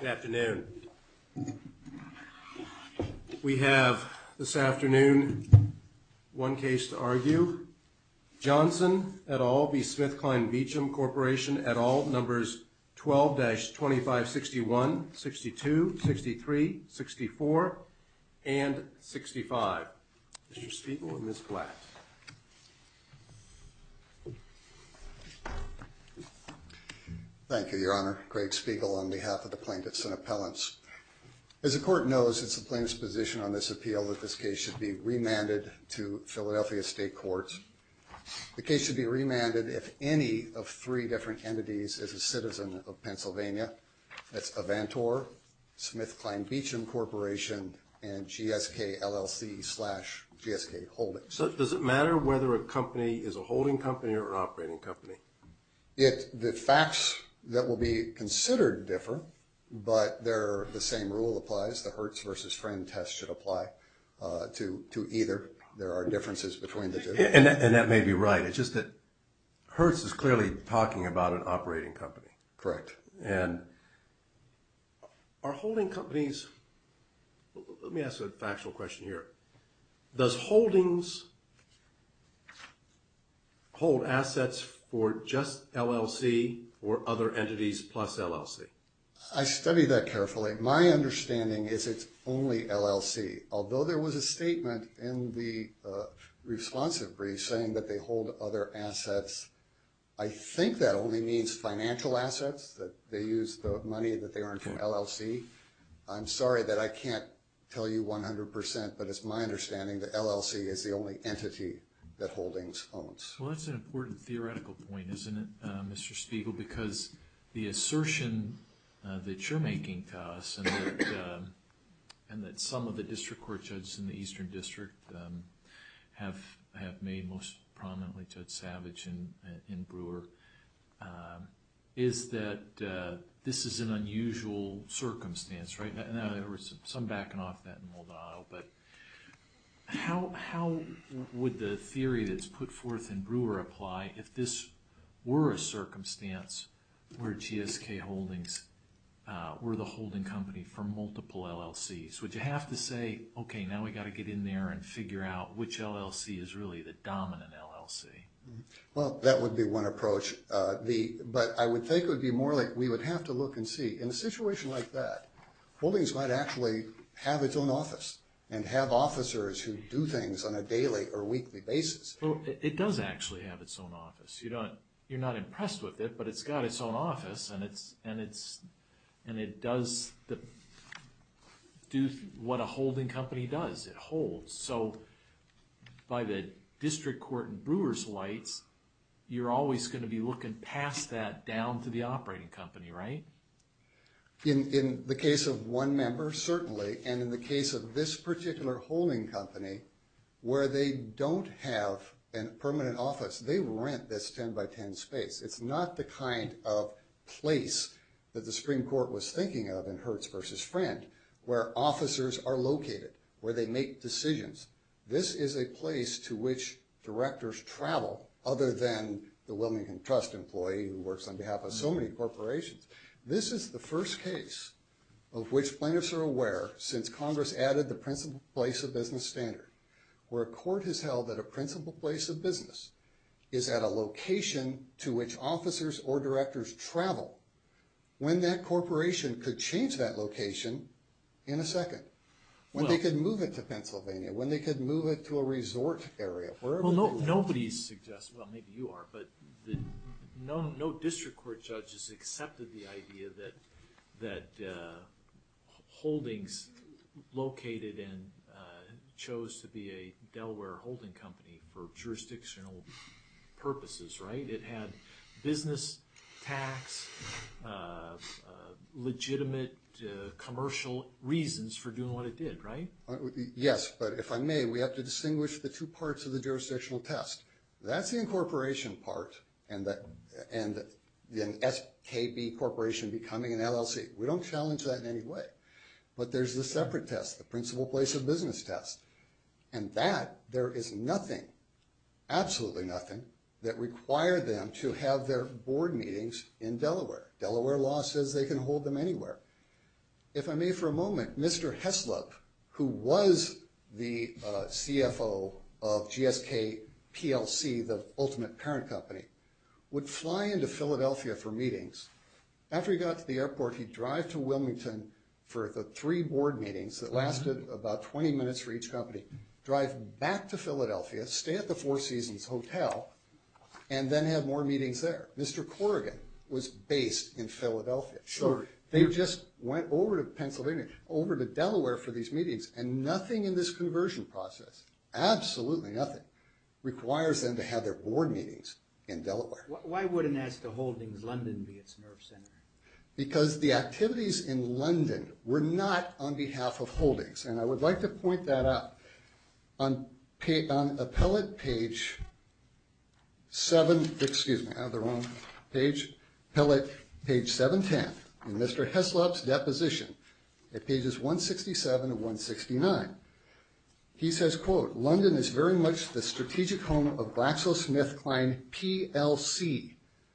Good afternoon. We have this afternoon one case to argue. Johnson et al v. Smith Kline Beecham Corporation et al, numbers 12-2561, 62, 63, 64, and 65. Mr. Spiegel and Ms. Platt. Thank you, Your Honor. Greg Spiegel on behalf of the plaintiffs and appellants. As the court knows, it's the plaintiff's position on this appeal that this case should be remanded to Philadelphia State Courts. The case should be remanded if any of three different entities is a citizen of Pennsylvania. That's Avantor, Smith Kline Beecham Corporation, and GSK LLC slash GSK Holdings. So does it matter whether a company is a holding company or an operating company? The facts that will be considered differ, but the same rule applies. The Hertz versus Friend test should apply to either. There are differences between the two. And that may be right. It's just that Hertz is clearly talking about an operating company. Correct. And are holding companies... Let me ask a factual question here. Does Holdings hold assets for just LLC or other entities plus LLC? I studied that carefully. My understanding is it's only LLC. Although there was a statement in the responsive brief saying that they hold other assets, I think that only means financial assets, that they use the money that they earn from LLC. I'm sorry that I can't tell you 100%, but it's my understanding that LLC is the only entity that Holdings owns. Well, that's an important theoretical point, isn't it, Mr. Spiegel? Because the assertion that you're making to us and that some of the district court judges in the Eastern District have made most prominently Judge Savage in Brewer is that this is an unusual circumstance, right? In other words, some backing off that in Moldano, but how would the theory that's put forth in Brewer apply if this were a circumstance where GSK Holdings were the holding company for multiple LLCs? Would you have to say, okay, now we've got to get in there and figure out which LLC is really the dominant LLC? Well, that would be one approach. But I would think it would be more like we would have to look and see. In a situation like that, Holdings might actually have its own office and have officers who do things on a daily or weekly basis. It does actually have its own office. You're not impressed with it, but it's got its own what a holding company does. It holds. So by the district court and Brewer's lights, you're always going to be looking past that down to the operating company, right? In the case of one member, certainly, and in the case of this particular holding company, where they don't have a permanent office, they rent this 10 by 10 space. It's not the kind of place that the Supreme Court was thinking of in Hertz versus Friend, where officers are located, where they make decisions. This is a place to which directors travel other than the Wilmington Trust employee who works on behalf of so many corporations. This is the first case of which plaintiffs are aware, since Congress added the principal place of business standard, where a court has held that a principal place of business is at a location to which officers or when that corporation could change that location in a second. When they could move it to Pennsylvania, when they could move it to a resort area. Well, nobody's suggested, well maybe you are, but no district court judges accepted the idea that holdings located and chose to be a tax, legitimate commercial reasons for doing what it did, right? Yes, but if I may, we have to distinguish the two parts of the jurisdictional test. That's the incorporation part and the SKB corporation becoming an LLC. We don't challenge that in any way, but there's the separate test, the principal place of business test, and that there is nothing, absolutely nothing, that required them to have their board meetings in Delaware. Delaware law says they can hold them anywhere. If I may for a moment, Mr. Heslop, who was the CFO of GSK PLC, the ultimate parent company, would fly into Philadelphia for meetings. After he got to the airport, he'd drive to Wilmington for the three board meetings that drive back to Philadelphia, stay at the Four Seasons Hotel, and then have more meetings there. Mr. Corrigan was based in Philadelphia. They just went over to Pennsylvania, over to Delaware for these meetings, and nothing in this conversion process, absolutely nothing, requires them to have their board meetings in Delaware. Why wouldn't Ask the Holdings London be its nerve center? Because the activities in London were not on behalf of holdings, and I would like to point that out. On appellate page seven, excuse me, I have the wrong page, appellate page 710, in Mr. Heslop's deposition, at pages 167 and 169, he says, quote, London is very much the strategic home of GlaxoSmithKline PLC,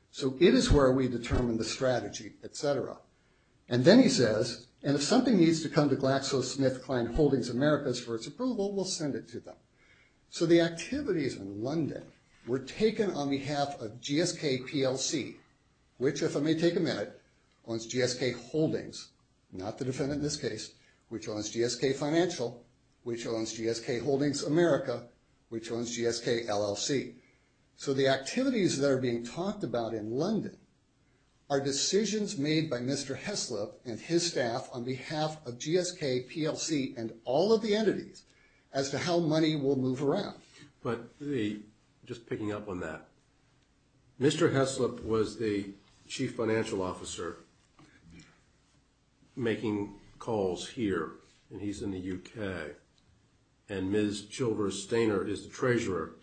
so it is where we determine the strategy, etc. And then he says, and if something needs to come to GlaxoSmithKline Holdings Americas for its approval, we'll send it to them. So the activities in London were taken on behalf of GSK PLC, which, if I may take a minute, owns GSK Holdings, not the defendant in this case, which owns GSK Financial, which owns GSK Holdings America, which owns GSK LLC. So the activities that are being talked about in London are decisions made by Mr. Heslop and his staff on behalf of GSK PLC and all of the entities as to how money will move around. But just picking up on that, Mr. Heslop was the chief financial officer making calls here, and he's in the UK, and Ms. Chilvers Stainer is the treasurer,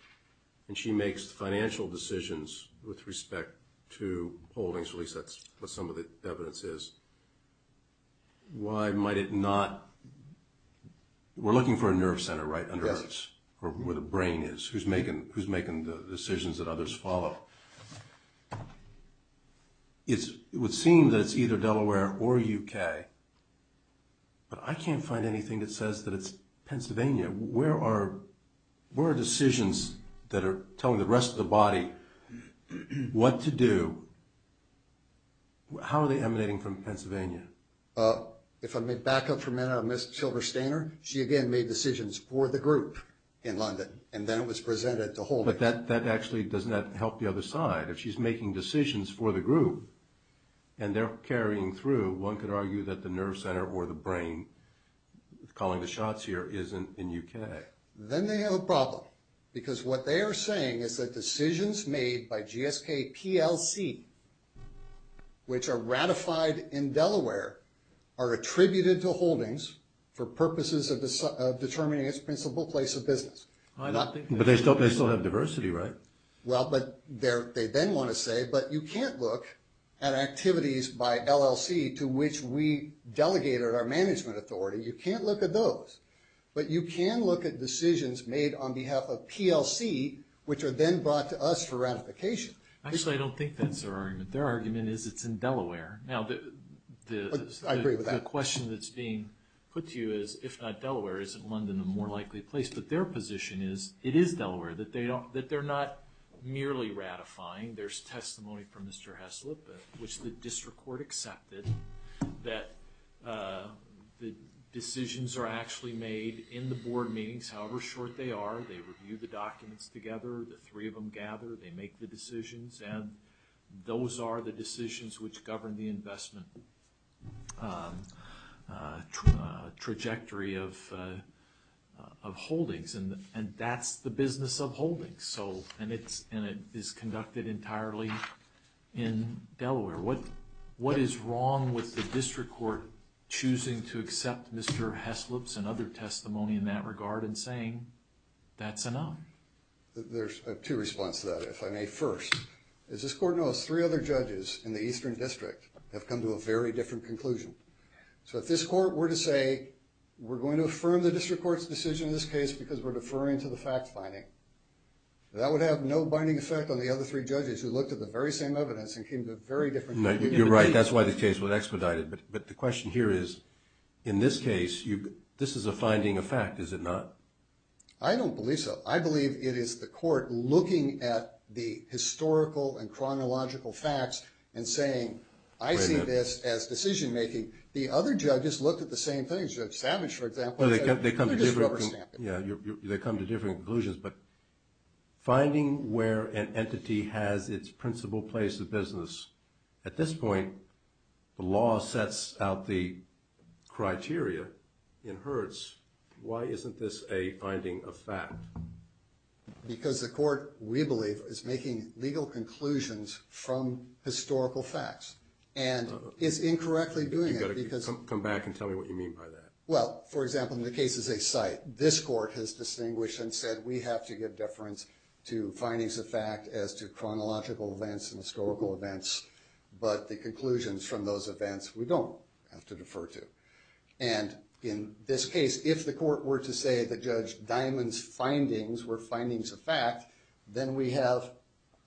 and she makes the financial decisions with respect to holdings, at least that's what some of the evidence is. Why might it not... We're looking for a nerve center, right, under us, where the brain is, who's making the decisions that others follow. It would seem that it's either Delaware or UK, but I can't find anything that says that it's Pennsylvania. Where are decisions that are telling the rest of the body what to do? How are they emanating from Pennsylvania? If I may back up for a minute on Ms. Chilvers Stainer, she again made decisions for the group in London, and then it was presented to holdings. But that actually does not help the other side. If she's making decisions for the group, and they're carrying through, one could argue that nerve center or the brain, calling the shots here, is in UK. Then they have a problem, because what they are saying is that decisions made by GSK PLC, which are ratified in Delaware, are attributed to holdings for purposes of determining its principal place of business. I don't think... But they still have diversity, right? Well, but they then want to say, but you can't look at activities by LLC to which we delegated our management authority. You can't look at those. But you can look at decisions made on behalf of PLC, which are then brought to us for ratification. Actually, I don't think that's their argument. Their argument is it's in Delaware. Now, the question that's being put to you is, if not Delaware, is it London, a more likely place? But their position is, it is Delaware, that they're not merely ratifying. There's testimony from Mr. Heslip, which the district court accepted, that the decisions are actually made in the board meetings, however short they are. They review the documents together, the three of them gather, they make the decisions, and those are the decisions which govern the investment trajectory of holdings. And that's the business of holdings. So, and it is conducted entirely in Delaware. What is wrong with the district court choosing to accept Mr. Heslip's and other testimony in that regard and saying, that's enough? There's two response to that, if I may first. As this court knows, three other judges in the eastern district have come to a very different conclusion. So if this court were to say, we're going to affirm the district court's decision in this case because we're deferring to the fact finding, that would have no binding effect on the other three judges who looked at the very same evidence and came to a very different conclusion. You're right, that's why the case was expedited. But the question here is, in this case, this is a finding of fact, is it not? I don't believe so. I believe it is the court looking at the historical and chronological facts and saying, I see this as decision making. The other judges looked at the same things. Judge Savage, for example, said, we're just rubber stamping. Yeah, they come to different conclusions. But finding where an entity has its principal place of business, at this point, the law sets out the criteria in Hertz. Why isn't this a finding of fact? Because the court, we believe, is making legal conclusions from historical facts and is incorrectly doing it. You've got to come back and tell me what you mean by that. Well, for example, in the case of a site, this court has distinguished and said, we have to give deference to findings of fact as to chronological events and historical events. But the conclusions from those events, we don't have to defer to. And in this case, if the court were to say that Judge Diamond's findings were findings of fact, then we have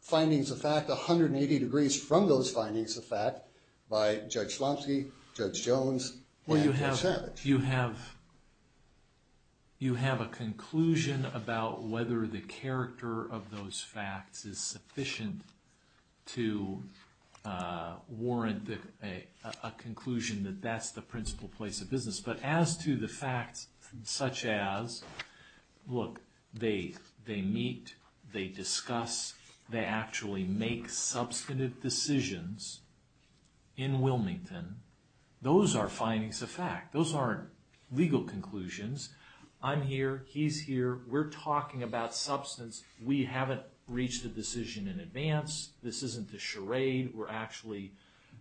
findings of fact 180 degrees from those findings of fact by Judge Slomski, Judge Jones, and Judge Savage. Well, you have a conclusion about whether the character of those facts is sufficient to warrant a conclusion that that's the principal place of business. But as to the facts such as, look, they meet, they discuss, they actually make substantive decisions in Wilmington, those are findings of fact. Those aren't legal conclusions. I'm here, he's here, we're talking about substance. We haven't reached a decision in advance. This isn't a charade. We're actually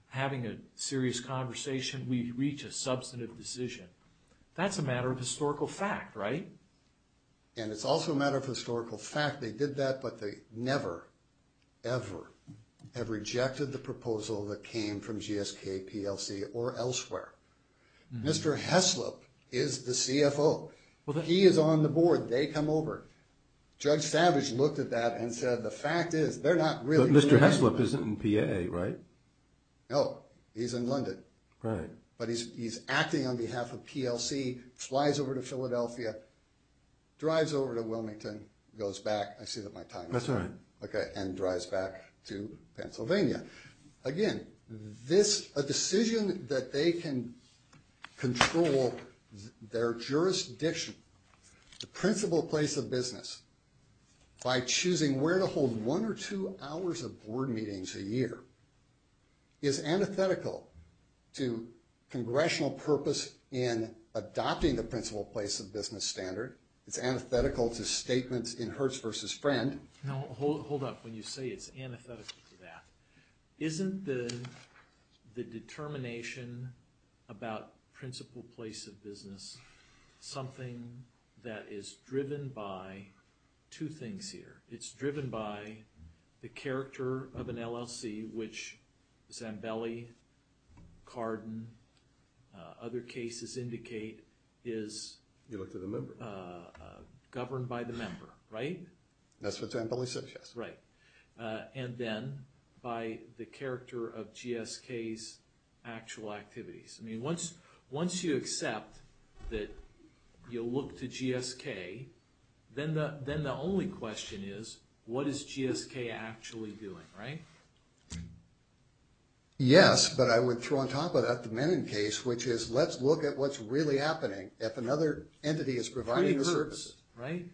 having a serious conversation. We've reached a historical fact, right? And it's also a matter of historical fact. They did that, but they never, ever have rejected the proposal that came from GSK, PLC, or elsewhere. Mr. Heslop is the CFO. He is on the board, they come over. Judge Savage looked at that and said, the fact is, they're not really- But Mr. Heslop isn't in PAA, right? No, he's in London. Right. He's acting on behalf of PLC, flies over to Philadelphia, drives over to Wilmington, goes back, I see that my time is up. That's all right. Okay, and drives back to Pennsylvania. Again, a decision that they can control their jurisdiction, the principal place of business, by choosing where to hold one or two hours of board meetings a year, is antithetical to congressional purpose in adopting the principal place of business standard. It's antithetical to statements in Hertz versus Friend. Now, hold up. When you say it's antithetical to that, isn't the determination about principal place of business something that is driven by two things here. It's driven by the character of an LLC, which Zambelli, Cardin, other cases indicate is- You looked at a member. Governed by the member, right? That's what Zambelli said, yes. And then by the character of GSK's actual activities. I mean, once you accept that you'll look to GSK, then the only question is, what is GSK actually doing, right? Yes, but I would throw on top of that the Mennon case, which is, let's look at what's really happening if another entity is providing the services. It recurs, right?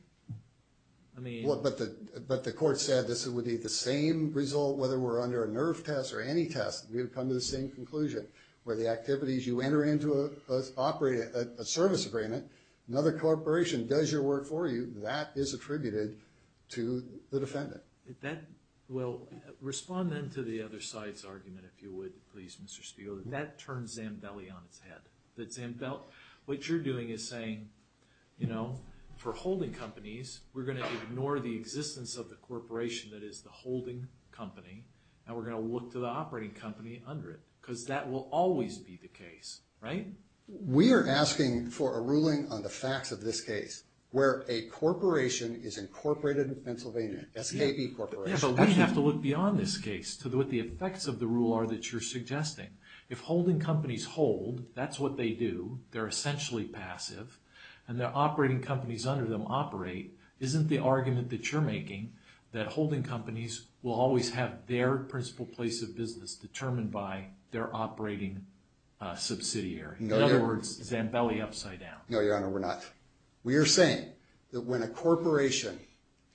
I mean- But the court said this would be the same result, whether we're under a NERF test or any test, we would come to the same conclusion. Where the activities, you enter into a service agreement, another corporation does your work for you, that is attributed to the defendant. Well, respond then to the other side's argument, if you would, please, Mr. Steele. That turns Zambelli on its head. What you're doing is saying, for holding companies, we're going to ignore the existence of the corporation that is the holding company, and we're going to look to the operating company under it, because that will always be the case, right? We are asking for a ruling on the facts of this case, where a corporation is incorporated in Pennsylvania, SKB Corporation. Yes, but we have to look beyond this case, to what the effects of the rule are that you're suggesting. If holding companies hold, that's what they do, they're essentially passive, and their operating companies under them operate, isn't the argument that you're making, that holding companies will always have their principal place of business determined by their operating subsidiary? In other words, Zambelli upside down. No, Your Honor, we're not. We are saying that when a corporation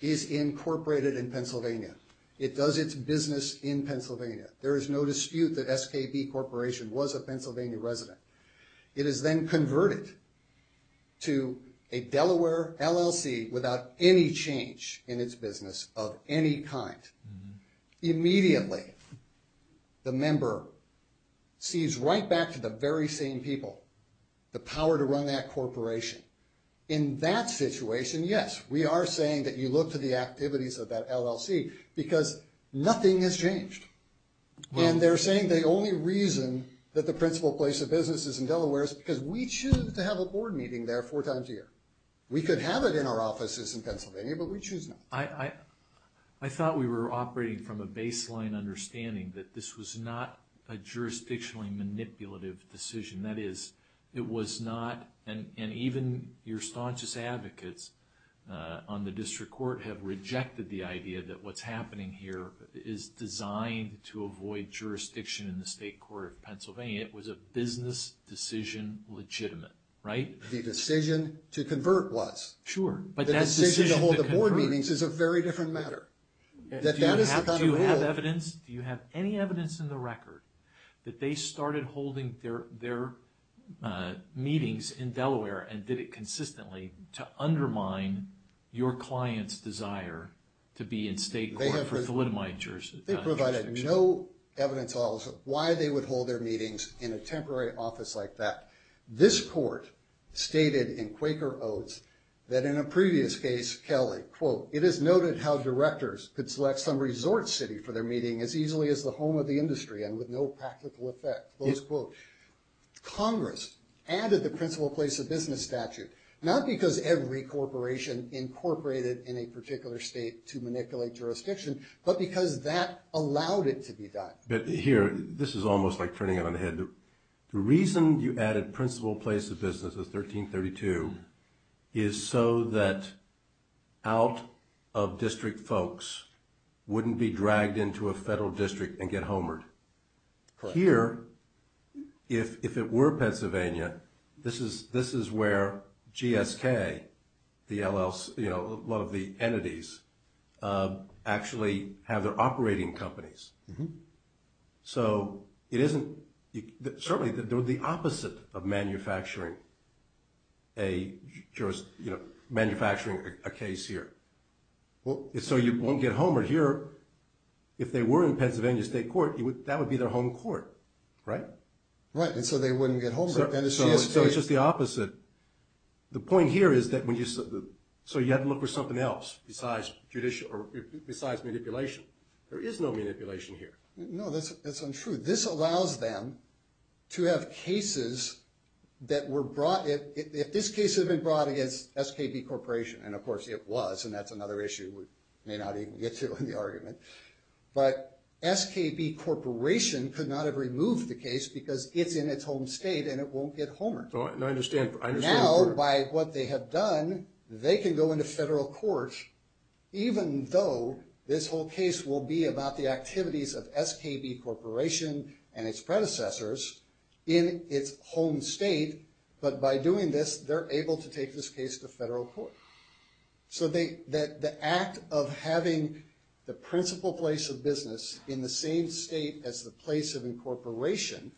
is incorporated in Pennsylvania, it does its business in Pennsylvania, there is no dispute that SKB Corporation was a Pennsylvania resident. It is then converted to a Delaware LLC without any change in its business of any kind. Immediately, the member sees right back to the very same people, the power to run that corporation. In that situation, yes, we are saying that you look to the activities of that LLC, because nothing has changed. They're saying the only reason that the principal place of business is in Delaware is because we choose to have a board meeting there four times a year. We could have it in our offices in Pennsylvania, but we choose not. I thought we were operating from a baseline understanding that this was not a jurisdictionally manipulative decision. That is, it was not, and even your staunchest advocates on the idea that what's happening here is designed to avoid jurisdiction in the state court of Pennsylvania. It was a business decision legitimate, right? The decision to convert was. Sure, but that decision to hold the board meetings is a very different matter. Do you have evidence? Do you have any evidence in the record that they started holding their meetings in Delaware and did it consistently to undermine your client's desire to be in state court for thalidomide jurisdiction? They provided no evidence at all as to why they would hold their meetings in a temporary office like that. This court stated in Quaker Oaths that in a previous case, Kelly, quote, it is noted how directors could select some resort city for their meeting as easily as the home of the industry and with no practical effect, close quote. Congress added the principal place of business statute, not because every corporation incorporated in a particular state to manipulate jurisdiction, but because that allowed it to be done. But here, this is almost like turning it on the head. The reason you added principal place of business is 1332 is so that out of district folks wouldn't be dragged into a federal district and get homered. Here, if it were Pennsylvania, this is where GSK, a lot of the entities, actually have their operating companies. So it isn't, certainly they're the opposite of their home court, right? Right, and so they wouldn't get homered. So it's just the opposite. The point here is that when you, so you have to look for something else besides manipulation. There is no manipulation here. No, that's untrue. This allows them to have cases that were brought, if this case had been brought against SKB Corporation, and of course it was, that's another issue we may not even get to in the argument, but SKB Corporation could not have removed the case because it's in its home state and it won't get homered. Now, by what they have done, they can go into federal court, even though this whole case will be about the activities of SKB Corporation and its predecessors in its home state, but by doing this, they're able to take this case to federal court. So the act of having the principal place of business in the same state as the place of incorporation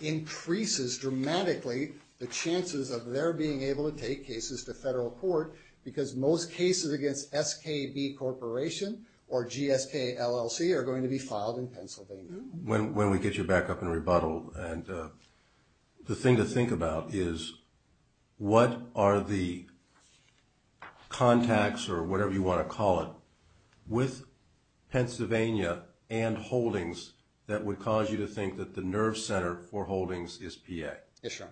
increases dramatically the chances of their being able to take cases to federal court because most cases against SKB Corporation or GSK LLC are going to be filed in Pennsylvania. When we get you back up in rebuttal, and the thing to think about is what are the contacts or whatever you want to call it with Pennsylvania and Holdings that would cause you to think that the nerve center for Holdings is PA? Yes, sir.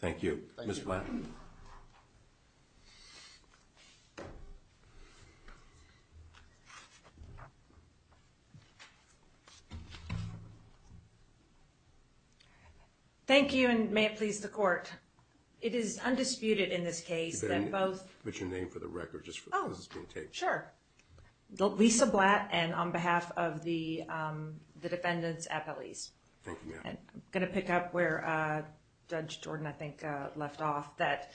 Thank you. Ms. Blatt. Thank you and may it please the court. It is undisputed in this case that both- Could you put your name for the record just for this being taped? Sure. Lisa Blatt and on behalf of the defendants at police. Thank you, ma'am. I'm going to pick up where Judge Jordan, I think, left off that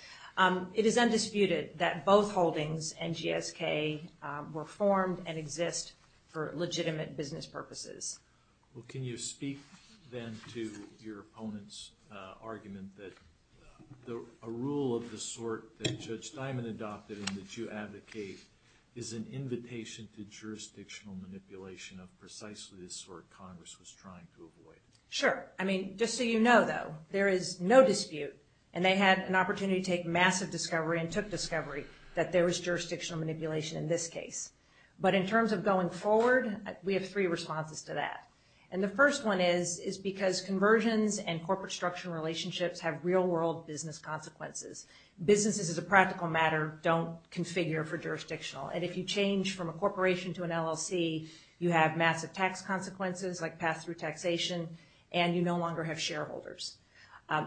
it is undisputed that both Holdings and GSK were formed and exist for legitimate business purposes. Well, can you speak then to your opponent's argument that a rule of the sort that Judge Diamond adopted and that you advocate is an invitation to jurisdictional manipulation of I mean, just so you know, though, there is no dispute and they had an opportunity to take massive discovery and took discovery that there was jurisdictional manipulation in this case. But in terms of going forward, we have three responses to that. And the first one is because conversions and corporate structural relationships have real world business consequences. Businesses as a practical matter don't configure for jurisdictional. And if you change from a shareholders.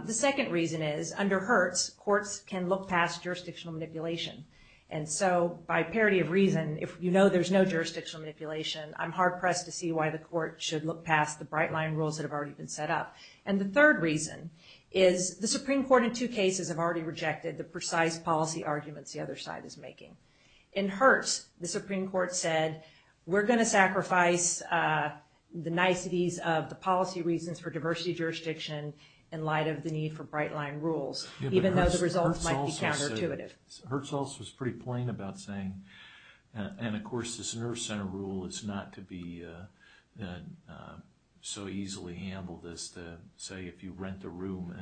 The second reason is under Hertz, courts can look past jurisdictional manipulation. And so by parity of reason, if you know there's no jurisdictional manipulation, I'm hard pressed to see why the court should look past the bright line rules that have already been set up. And the third reason is the Supreme Court in two cases have already rejected the precise policy arguments the other side is making. In Hertz, the Supreme Court said, we're going to in light of the need for bright line rules, even though the results might be counterintuitive. Hertz also was pretty plain about saying, and of course, this nerve center rule is not to be so easily handled as to say, if you rent a room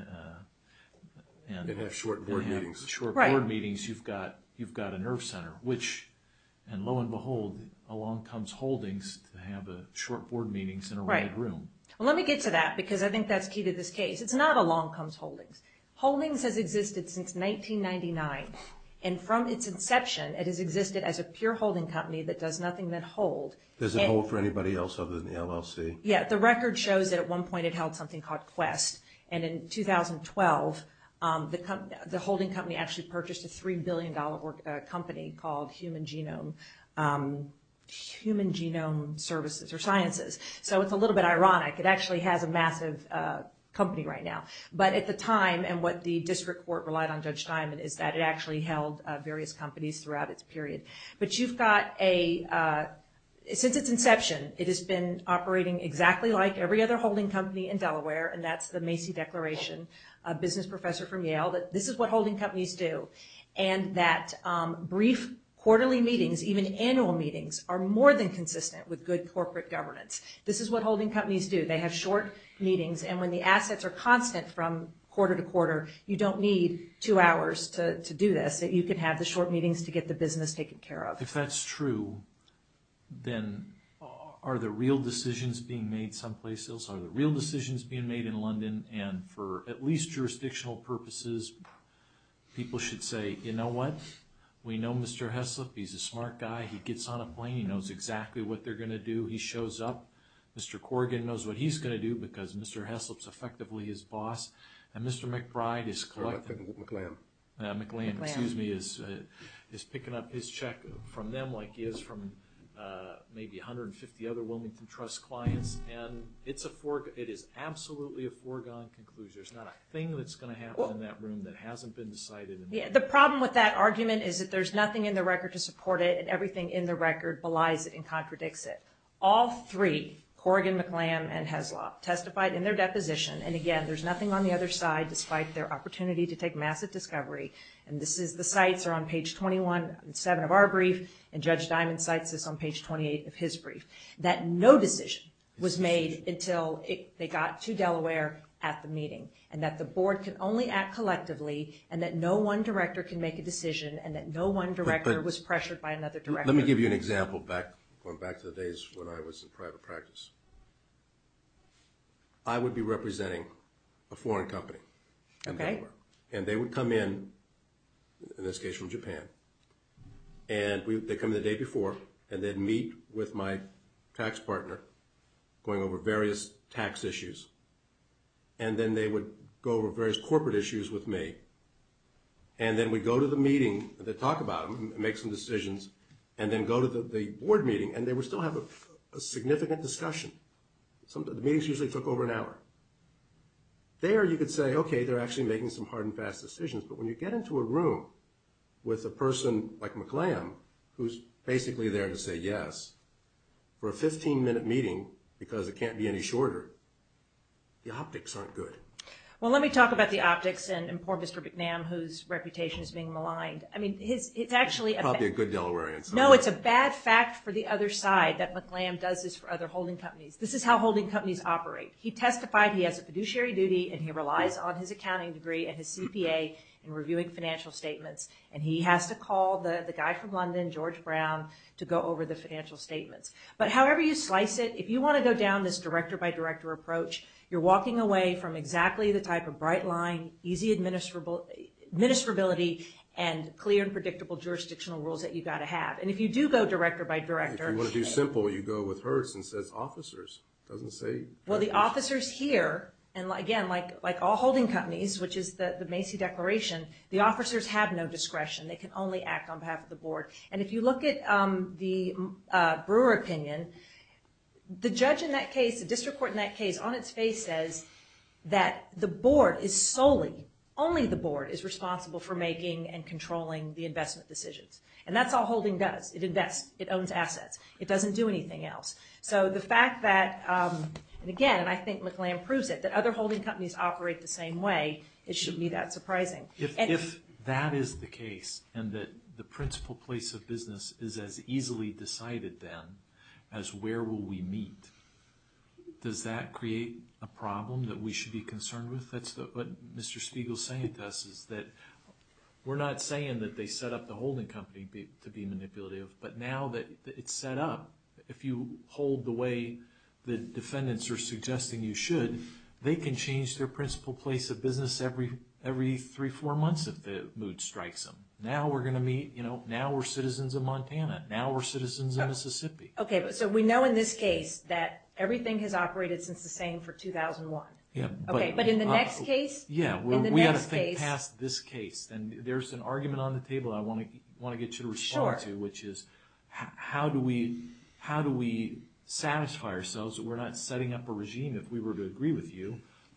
and have short board meetings, short board meetings, you've got you've got a nerve center, which, and lo and behold, along comes holdings to have a short board meetings in a room. Well, let me get to that because I think that's key to this case. It's not a long comes holdings. Holdings has existed since 1999. And from its inception, it has existed as a pure holding company that does nothing that hold. Does it hold for anybody else other than the LLC? Yeah. The record shows that at one point it held something called Quest. And in 2012, the holding company actually purchased a $3 billion company called Human Genome Services or Sciences. So it's a little bit ironic. It actually has a massive company right now. But at the time and what the district court relied on Judge Steinman is that it actually held various companies throughout its period. But you've got a, since its inception, it has been operating exactly like every other holding company in Delaware. And that's the Macy Declaration, a business professor from Yale, that this is what holding companies do. And that brief quarterly meetings, even annual meetings, are more than consistent with good corporate governance. This is what holding companies do. They have short meetings. And when the assets are constant from quarter to quarter, you don't need two hours to do this. You can have the short meetings to get the business taken care of. If that's true, then are the real decisions being made someplace else? Are the real decisions being made in London? And for at least jurisdictional purposes, people should say, you know what? We know Mr. Heslop. He's a smart guy. He gets on a plane. He knows exactly what they're going to do. He shows up. Mr. Corrigan knows what he's going to do because Mr. Heslop's effectively his boss. And Mr. McBride is collecting, McLean, excuse me, is picking up his check from them like he is from maybe 150 other Wilmington Trust clients. And it's a foregone, it is absolutely a foregone conclusion. There's not a thing that's going to happen in that room that hasn't been decided. The problem with that argument is that there's nothing in the record to support it. And everything in the record belies it and contradicts it. All three, Corrigan, McLean, and Heslop testified in their deposition. And again, there's nothing on the other side despite their opportunity to take massive discovery. And this is, the sites are on page 21 and 7 of our brief. And Judge Diamond cites this on page 28 of his brief. That no decision was made until they got to Delaware at the meeting. And that the board can only act collectively. And that no one director can make a decision. And that no one director was pressured by another director. Let me give you an example going back to the days when I was in private practice. I would be representing a foreign company. And they would come in, in this case from Japan. And they'd come in the day before and then meet with my tax partner going over various tax issues. And then they would go over various corporate issues with me. And then we'd go to the meeting and talk about them and make some decisions. And then go to the board meeting. And they would still have a significant discussion. The meetings usually took over an hour. There you could say, okay, they're actually making some hard and fast decisions. But when you get into a room with a person like McClam, who's basically there to say yes, for a 15 minute meeting, because it can't be any shorter, the optics aren't good. Well, let me talk about the optics and poor Mr. McNam, whose reputation is being maligned. I mean, his, it's actually. Probably a good Delawarean. No, it's a bad fact for the other side that McClam does this for other holding companies. This is how holding companies operate. He testified he has a fiduciary duty and he relies on his accounting degree and his CPA in reviewing financial statements. And he has to call the guy from London, George Brown, to go over the financial statements. But however you slice it, if you want to go down this director by director approach, you're walking away from exactly the type of bright line, easy administrability, and clear and predictable jurisdictional rules that you've got to have. And if you do go director by director. If you want to do simple, you go with Hertz and says officers. It doesn't say. Well, the officers here, and again, like all holding companies, which is the Macy Declaration, the officers have no discretion. They can only act on behalf of the board. And if you look at the Brewer opinion, the judge in that case, the district court in that case, on its face says that the board is solely, only the board is responsible for making and controlling the investment decisions. And that's all holding does. It invests, it owns assets. It doesn't do Again, and I think McClam proves it, that other holding companies operate the same way. It shouldn't be that surprising. If that is the case, and that the principal place of business is as easily decided then, as where will we meet, does that create a problem that we should be concerned with? That's what Mr. Spiegel's saying to us is that we're not saying that they set up the holding company to be manipulative. But now that it's set up, if you hold the way the defendants are suggesting you should, they can change their principal place of business every three, four months if the mood strikes them. Now we're going to meet, now we're citizens of Montana. Now we're citizens of Mississippi. Okay. So we know in this case that everything has operated since the same for 2001. Yeah. Okay. But in the next case? Yeah. We got to think past this case. Then there's an argument on the table I want to agree with you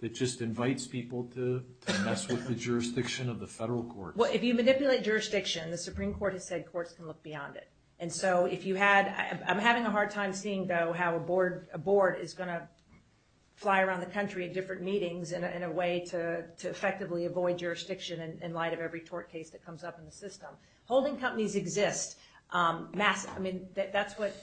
that just invites people to mess with the jurisdiction of the federal courts. Well, if you manipulate jurisdiction, the Supreme Court has said courts can look beyond it. And so if you had, I'm having a hard time seeing though how a board is going to fly around the country at different meetings in a way to effectively avoid jurisdiction in light of every tort case that comes up in the system. Holding companies exist. I mean, that's what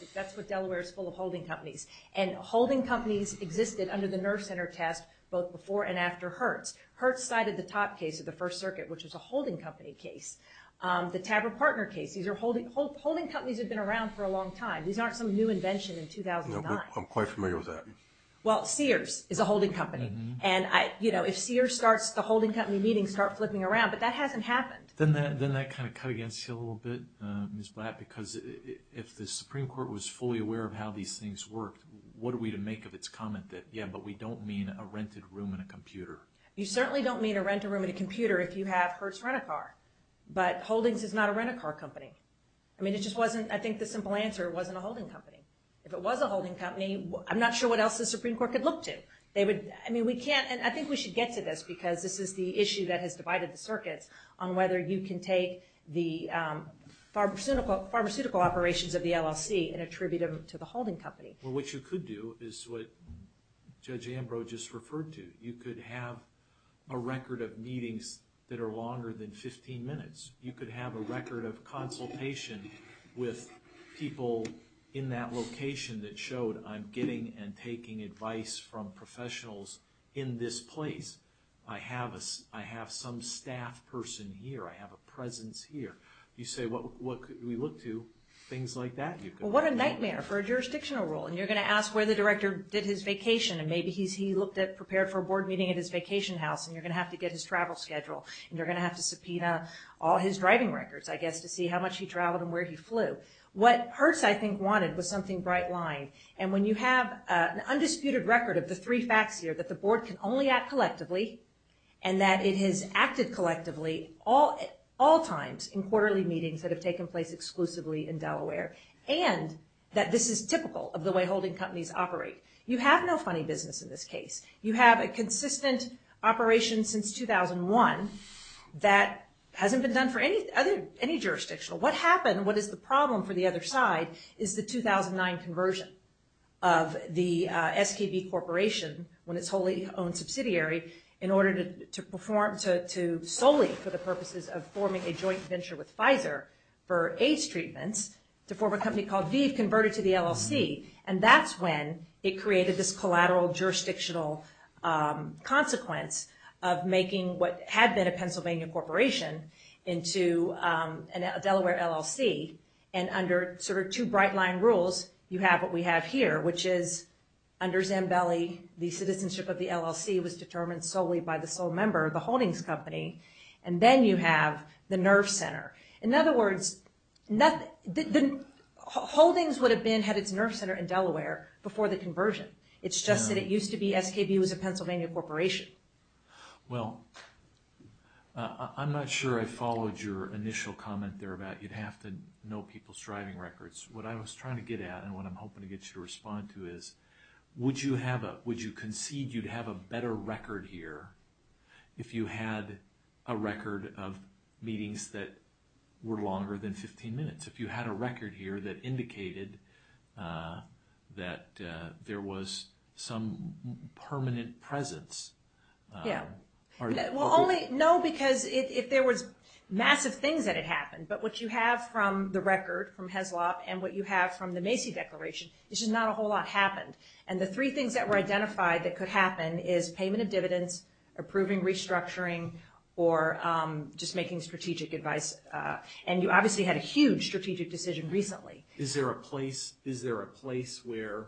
existed under the Nerve Center test, both before and after Hertz. Hertz cited the top case of the First Circuit, which was a holding company case. The Taver partner case. These are holding companies have been around for a long time. These aren't some new invention in 2009. I'm quite familiar with that. Well, Sears is a holding company. And if Sears starts the holding company meeting, start flipping around, but that hasn't happened. Then that kind of cut against you a little bit, Ms. Blatt, because if the Supreme Court was fully aware of how these things worked, what are we to make of its comment that, yeah, but we don't mean a rented room and a computer. You certainly don't mean a rented room and a computer if you have Hertz Rent-A-Car. But Holdings is not a rent-a-car company. I mean, it just wasn't, I think the simple answer wasn't a holding company. If it was a holding company, I'm not sure what else the Supreme Court could look to. They would, I mean, we can't, and I think we should get to this because this is the issue that has divided the circuits on whether you can take the pharmaceutical operations of the LLC and attribute them to the holding company. Well, what you could do is what Judge Ambrose just referred to. You could have a record of meetings that are longer than 15 minutes. You could have a record of consultation with people in that location that showed I'm getting and taking advice from professionals in this year. You say, what could we look to, things like that. Well, what a nightmare for a jurisdictional rule, and you're going to ask where the director did his vacation, and maybe he looked at, prepared for a board meeting at his vacation house, and you're going to have to get his travel schedule, and you're going to have to subpoena all his driving records, I guess, to see how much he traveled and where he flew. What Hertz, I think, wanted was something bright line, and when you have an undisputed record of the three facts here, that the board can only act collectively, and that it has collectively all times in quarterly meetings that have taken place exclusively in Delaware, and that this is typical of the way holding companies operate. You have no funny business in this case. You have a consistent operation since 2001 that hasn't been done for any jurisdictional. What happened, what is the problem for the other side, is the 2009 conversion of the SKB Corporation, when it's wholly owned subsidiary, in order to perform, solely for the purposes of forming a joint venture with Pfizer for AIDS treatments, to form a company called Veve, converted to the LLC, and that's when it created this collateral jurisdictional consequence of making what had been a Pennsylvania corporation into a Delaware LLC, and under two bright line rules, you have what we have here, which is under Zambelli, the citizenship of the LLC was determined solely by the sole member, the Holdings Company, and then you have the Nerf Center. In other words, Holdings would have had its Nerf Center in Delaware before the conversion. It's just that it used to be SKB was a Pennsylvania corporation. Well, I'm not sure I followed your initial comment there about you'd have to know people's driving records. What I was trying to get at, and what I'm hoping to get you to respond to is, would you concede you'd have a better record here if you had a record of meetings that were longer than 15 minutes? If you had a record here that indicated that there was some permanent presence? Yeah. Well, only, no, because if there was massive things that had happened, but what you have from the record, from Heslop, and what you have from the Macy Declaration, it's just not a whole lot happened. And the three things that were identified that could happen is payment of dividends, approving restructuring, or just making strategic advice. And you obviously had a huge strategic decision recently. Is there a place where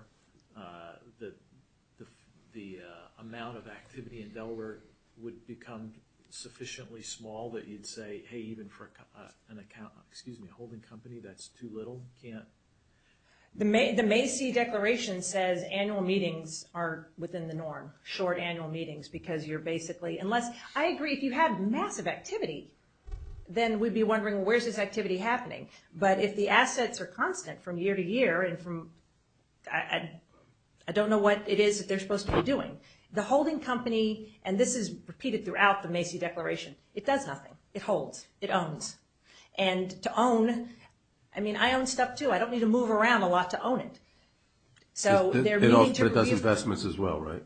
the amount of activity in Delaware would become sufficiently small that you'd say, even for a holding company, that's too little? The Macy Declaration says annual meetings are within the norm, short annual meetings, because you're basically, unless, I agree, if you had massive activity, then we'd be wondering, where's this activity happening? But if the assets are constant from year to year, and from, I don't know what it is that they're supposed to be doing. The holding company, and this is repeated throughout the Macy Declaration, it does nothing. It holds. It owns. And to own, I mean, I own stuff too. I don't need to move around a lot to own it. So they're meaning to- It does investments as well, right?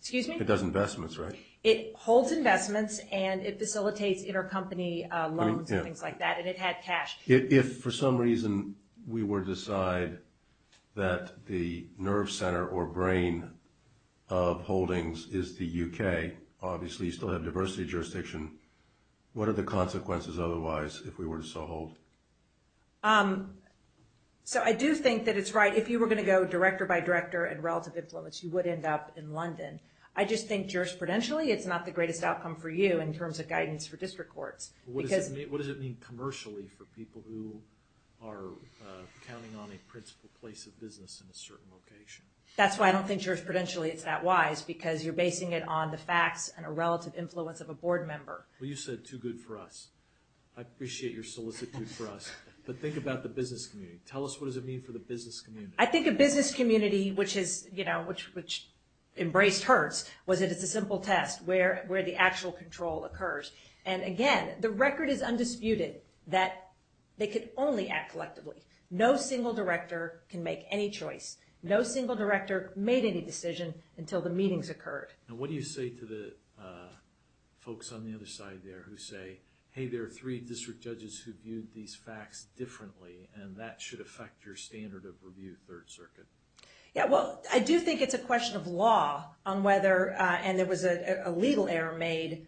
Excuse me? It does investments, right? It holds investments, and it facilitates intercompany loans and things like that, and it had cash. If, for some reason, we were to decide that the nerve center or brain of holdings is the UK, obviously you still have diversity jurisdiction. What are the consequences otherwise, if we were to so hold? So I do think that it's right. If you were going to go director by director and relative influence, you would end up in London. I just think jurisprudentially, it's not the greatest outcome for you in terms of guidance for district courts, because- What does it mean commercially for people who are counting on a principal place of business in a certain location? That's why I don't think jurisprudentially it's that wise, because you're basing it on the facts and a relative influence of a board member. Well, you said too good for us. I appreciate your solicitude for us, but think about the business community. Tell us what does it mean for the business community. I think a business community, which embraced Hertz, was that it's a simple test where the actual control occurs. And again, the record is undisputed that they could only act collectively. No single director can make any choice. No single director made any decision until the meetings occurred. And what do you say to the folks on the other side there who say, hey, there are three district judges who viewed these facts differently, and that should affect your standard of review, Third Circuit? Yeah, well, I do think it's a question of law on whether, and there was a legal error made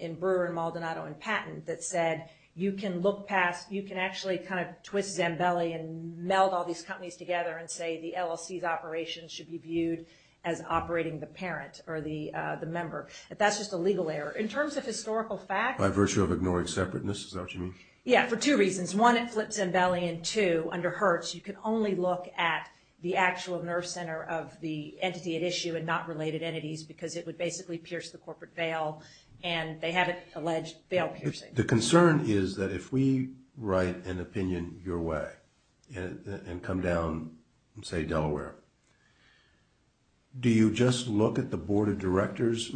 in Brewer and Maldonado and Patton that said, you can look past, you can actually kind of twist Zambelli and meld all these companies together and say the LLC's operations should be viewed as operating the parent or the member. But that's just a legal error. In terms of historical facts- By virtue of ignoring separateness, is that what you mean? Yeah, for two reasons. One, it flips Zambelli, and two, under Hertz, you can only look at the actual nerve center of the entity at issue and not related entities, because it would basically pierce the corporate veil, and they have it alleged veil-piercing. The concern is that if we write an opinion your way and come down, say, Delaware, do you just look at the board of directors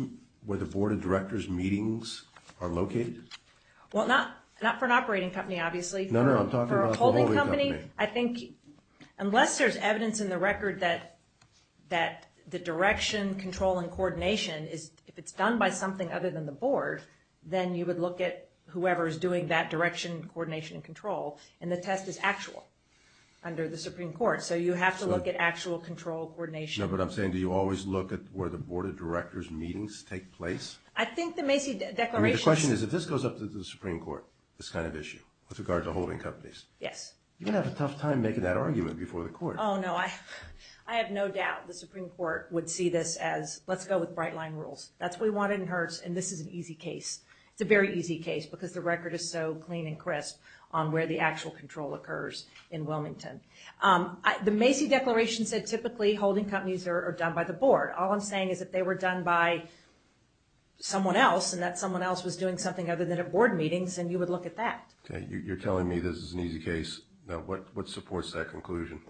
where the board of directors meetings are located? Well, not for an operating company, obviously. No, no, I'm talking about- For a holding company, I think, unless there's evidence in the record that the direction, control, and coordination is, if it's done by something other than the board, then you would look at whoever is doing that direction, coordination, and control, and the test is actual under the Supreme Court. So, you have to look at actual control, coordination. No, but I'm saying, do you always look at where the board of directors meetings take place? I think the Macy Declaration- The question is, if this goes up to the Supreme Court, this kind of issue, with regard to holding companies- Yes. You're going to have a tough time making that argument before the court. Oh, no, I have no doubt the Supreme Court would see this as, let's go with bright line rules. That's what we wanted in Hertz, and this is an easy case. It's a very easy case because the record is so clean and crisp on where the actual control occurs in Wilmington. The Macy Declaration said, typically, holding companies are done by the board. All I'm saying is that they were done by someone else, and that someone else was doing something other than at board meetings, and you would look at that. Okay, you're telling me this is an easy case. Now, what supports that conclusion?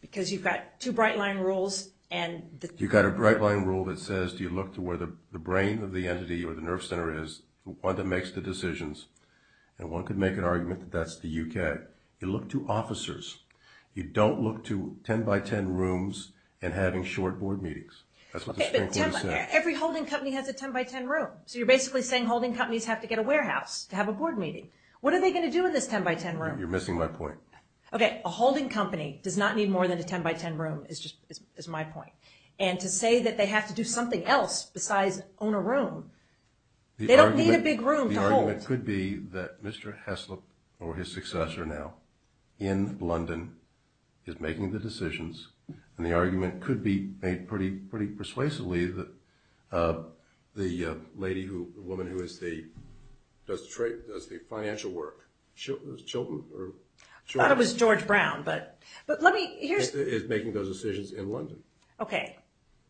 Because you've got two bright line rules and- You've got a bright line rule that says, do you look to where the brain of the entity or the nerve center is, one that makes the decisions, and one could make an argument that that's the UK. You look to officers. You don't look to 10 by 10 rooms and having short board meetings. Okay, but every holding company has a 10 by 10 room, so you're basically saying holding companies have to get a warehouse to have a board meeting. What are they going to do in this 10 by 10 room? You're missing my point. Okay, a holding company does not need more than a 10 by 10 room, is my point. And to say that they have to do something else besides own a room, they don't need a big room to hold. The argument could be that Mr. Heslop or his successor now in London is making the decisions, and the argument could be made pretty persuasively that the lady who, the woman who does the financial work, Chilton or- I thought it was George Brown, but let me, here's- Is making those decisions in London. Okay.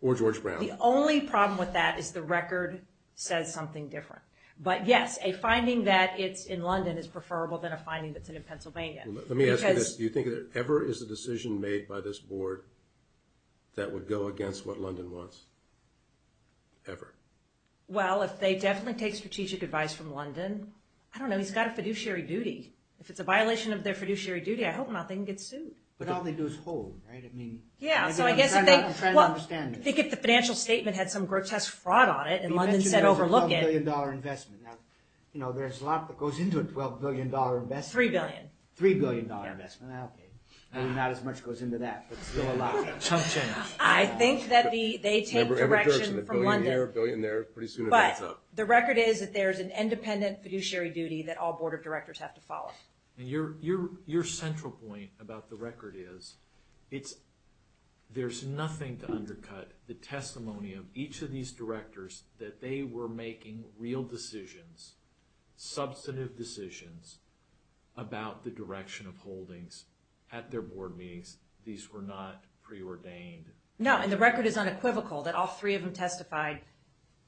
Or George Brown. The only problem with that is the record says something different. But yes, a finding that it's in London is preferable than a finding that's in Pennsylvania. Let me ask you this. Do you think that ever is a decision made by this board that would go against what London wants? Ever? Well, if they definitely take strategic advice from London, I don't know. He's got a fiduciary duty. If it's a violation of their fiduciary duty, I hope not. They can get sued. But all they do is hold, right? I mean- Yeah, so I guess if they- I'm trying to understand this. I think if the financial statement had some grotesque fraud on it and London said overlook it- You mentioned there's a $12 billion investment. Now, there's a lot that goes into a $12 billion investment. Three billion. Three billion dollar investment, I'll pay. Maybe not as much goes into that, but still a lot. Some change. I think that they take direction from London. $1 billion there, pretty soon it adds up. But the record is that there's an independent fiduciary duty that all board of directors have to follow. And your central point about the record is there's nothing to undercut the testimony of each of these directors that they were making real decisions, substantive decisions, about the direction of holdings at their board meetings. These were not preordained. No, and the record is unequivocal that all three of them testified.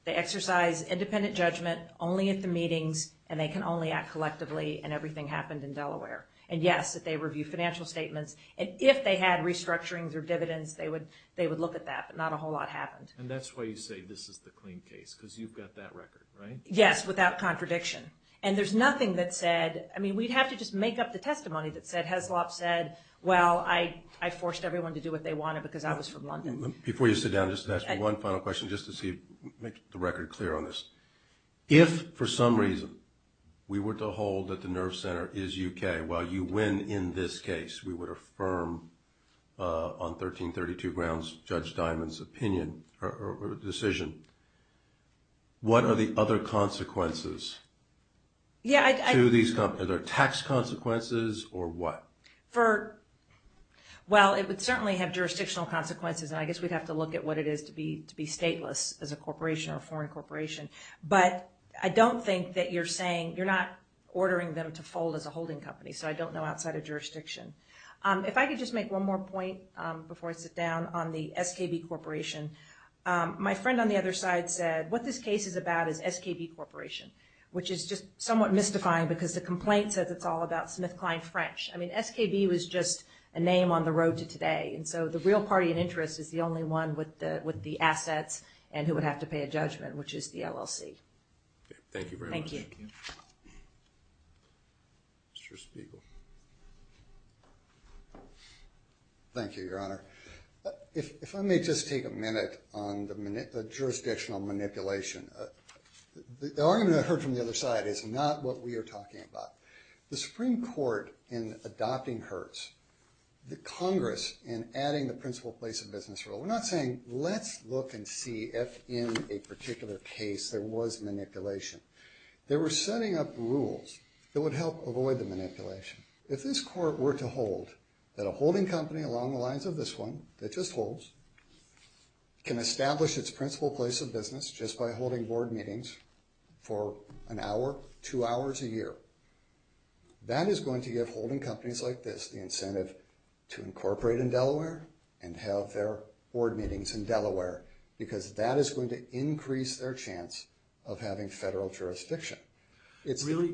They exercise independent judgment only at the meetings, and they can only act collectively, and everything happened in Delaware. And yes, that they review financial statements. And if they had restructurings or dividends, they would look at that. But not a whole lot happened. And that's why you say this is the clean case, because you've got that record, right? Yes, without contradiction. And there's nothing that said, I mean, we'd have to just make up the testimony that said Heslop said, well, I forced everyone to do what they wanted because I was from London. Before you sit down, just ask me one final question, just to make the record clear on this. If, for some reason, we were to hold that the nerve center is UK, while you win in this case, we would affirm on 1332 grounds Judge Diamond's opinion or decision, what are the other consequences to these companies? Are there tax consequences or what? Well, it would certainly have jurisdictional consequences. And I guess we'd have to look at what it is to be stateless as a corporation or a foreign corporation. But I don't think that you're saying, you're not ordering them to fold as a holding company. So I don't know outside of jurisdiction. If I could just make one more point before I sit down on the SKB Corporation. My friend on the other side said, what this case is about is SKB Corporation, which is just somewhat mystifying because the complaint says it's all about SmithKline French. I mean, SKB was just a name on the road to today. And so the real party in interest is the only one with the assets and who would have to pay a judgment, which is the LLC. Thank you very much. Thank you. Mr. Spiegel. Thank you, Your Honor. If I may just take a minute on the jurisdictional manipulation, the argument I heard from the other side is not what we are talking about. The Supreme Court in adopting Hertz, the Congress in adding the principal place of business rule, we're not saying, let's look and see if in a particular case there was manipulation. They were setting up rules that would help avoid the manipulation. If this Court were to hold that a holding company along the lines of this one that just holds can establish its principal place of business just by holding board meetings for an hour, two hours a year, that is going to give holding companies like this the incentive to incorporate in Delaware and have their board meetings in Delaware because that is going to increase their chance of having federal jurisdiction. Do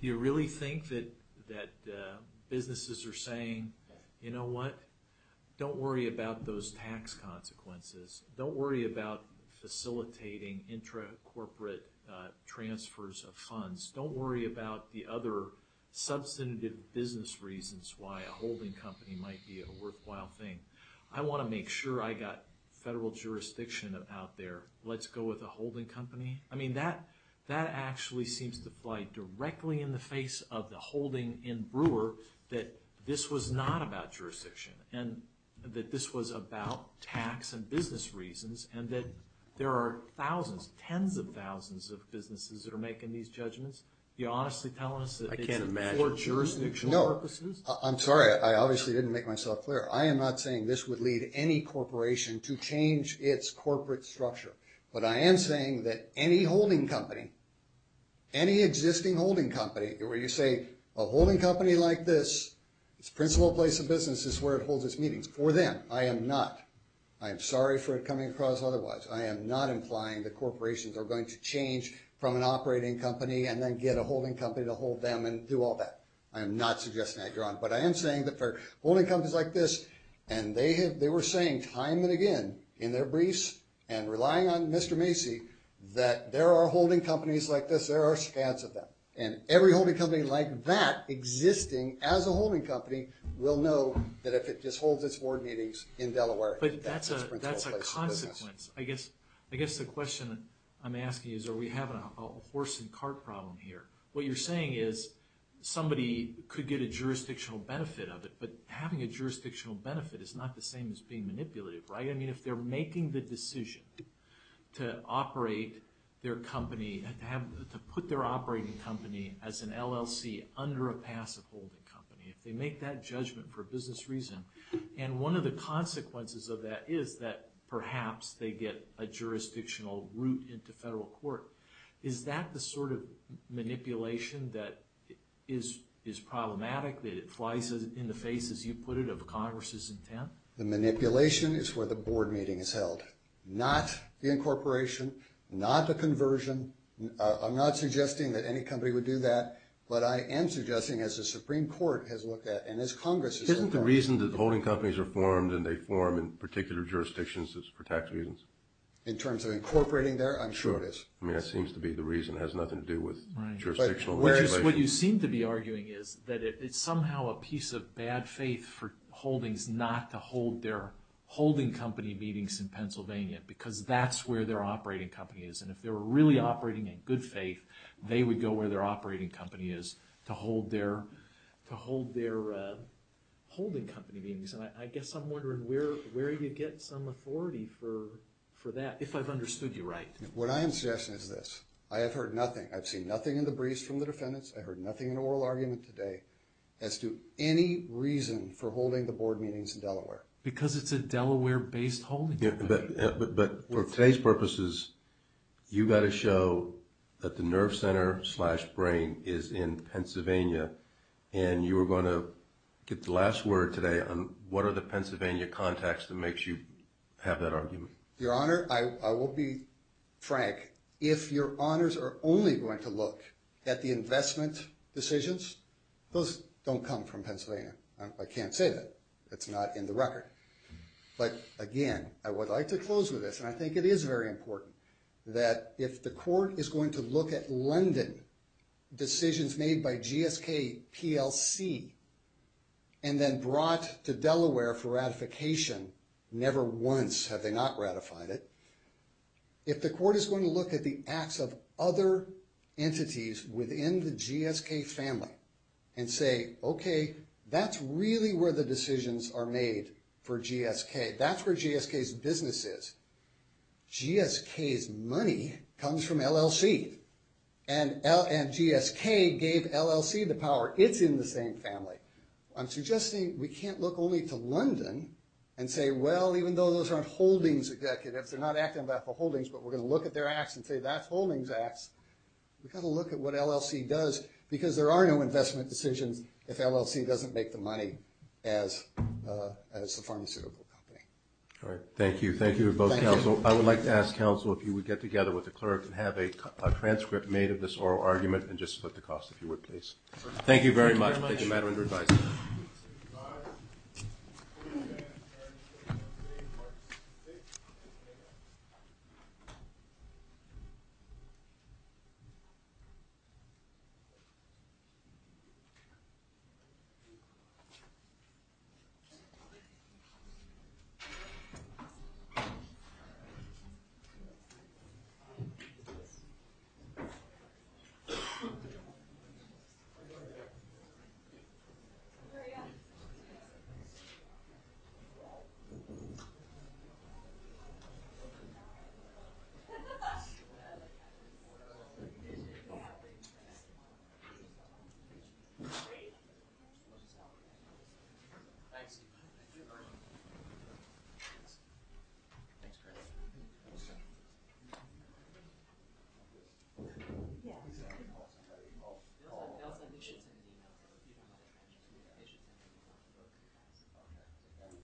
you really think that businesses are saying, you know what, don't worry about those tax consequences. Don't worry about facilitating intra-corporate transfers of funds. Don't worry about the other substantive business reasons why a holding company might be a worthwhile thing. I want to make sure I got federal jurisdiction out there. Let's go with a holding company. I mean, that actually seems to play directly in the face of the holding in Brewer that this was not about jurisdiction and that this was about tax and business reasons and that there are thousands, tens of thousands of businesses that are making these judgments. You're honestly telling us that it's for jurisdictional purposes? I'm sorry. I obviously didn't make myself clear. I am not saying this would lead any corporation to change its corporate structure, but I am saying that for any holding company, any existing holding company where you say a holding company like this, its principal place of business is where it holds its meetings. For them, I am not. I am sorry for it coming across otherwise. I am not implying that corporations are going to change from an operating company and then get a holding company to hold them and do all that. I am not suggesting that, John. But I am saying that for holding companies like this, and they were saying time and again in their briefs and relying on Mr. Macy, that there are holding companies like this, there are scads of them. And every holding company like that existing as a holding company will know that if it just holds its board meetings in Delaware, that's its principal place of business. But that's a consequence. I guess the question I'm asking is are we having a horse and cart problem here? What you're saying is somebody could get a jurisdictional benefit of it, but having a jurisdictional benefit is not the same as being manipulative, right? If they're making the decision to operate their company, to put their operating company as an LLC under a passive holding company, if they make that judgment for business reason, and one of the consequences of that is that perhaps they get a jurisdictional route into federal court, is that the sort of manipulation that is problematic, that it flies in the face, as you put it, of Congress's intent? The manipulation is where the board meeting is held, not the incorporation, not the conversion. I'm not suggesting that any company would do that, but I am suggesting, as the Supreme Court has looked at, and as Congress has looked at- Isn't the reason that holding companies are formed and they form in particular jurisdictions is for tax reasons? In terms of incorporating there? I'm sure it is. I mean, that seems to be the reason. It has nothing to do with jurisdictional manipulation. What you seem to be arguing is that it's somehow a piece of bad faith for holdings not to holding company meetings in Pennsylvania, because that's where their operating company is, and if they were really operating in good faith, they would go where their operating company is to hold their holding company meetings, and I guess I'm wondering where you get some authority for that, if I've understood you right. What I am suggesting is this. I have heard nothing. I've seen nothing in the briefs from the defendants. I heard nothing in oral argument today as to any reason for holding the board meetings in Delaware. Because it's a Delaware-based holding company. But for today's purposes, you've got to show that the nerve center slash brain is in Pennsylvania, and you were going to get the last word today on what are the Pennsylvania contacts that makes you have that argument? Your Honor, I will be frank. If your honors are only going to look at the investment decisions, those don't come from Pennsylvania. I can't say that. It's not in the record. But again, I would like to close with this, and I think it is very important, that if the court is going to look at London, decisions made by GSK, PLC, and then brought to Delaware for ratification, never once have they not ratified it, if the court is going to look at the acts of other entities within the GSK family and say, okay, that's really where the decisions are made for GSK. That's where GSK's business is. GSK's money comes from LLC. And GSK gave LLC the power. It's in the same family. I'm suggesting we can't look only to London and say, well, even though those aren't holdings executives, they're not acting on behalf of holdings, but we're going to look at their acts and say, that's holdings acts. We've got to look at what LLC does, because there are no investment decisions if LLC doesn't make the money as the pharmaceutical company. All right. Thank you. Thank you to both counsel. I would like to ask counsel if you would get together with the clerk and have a transcript made of this oral argument, and just split the cost, if you would, please. Thank you very much. Thank you very much. Take your matter into revise.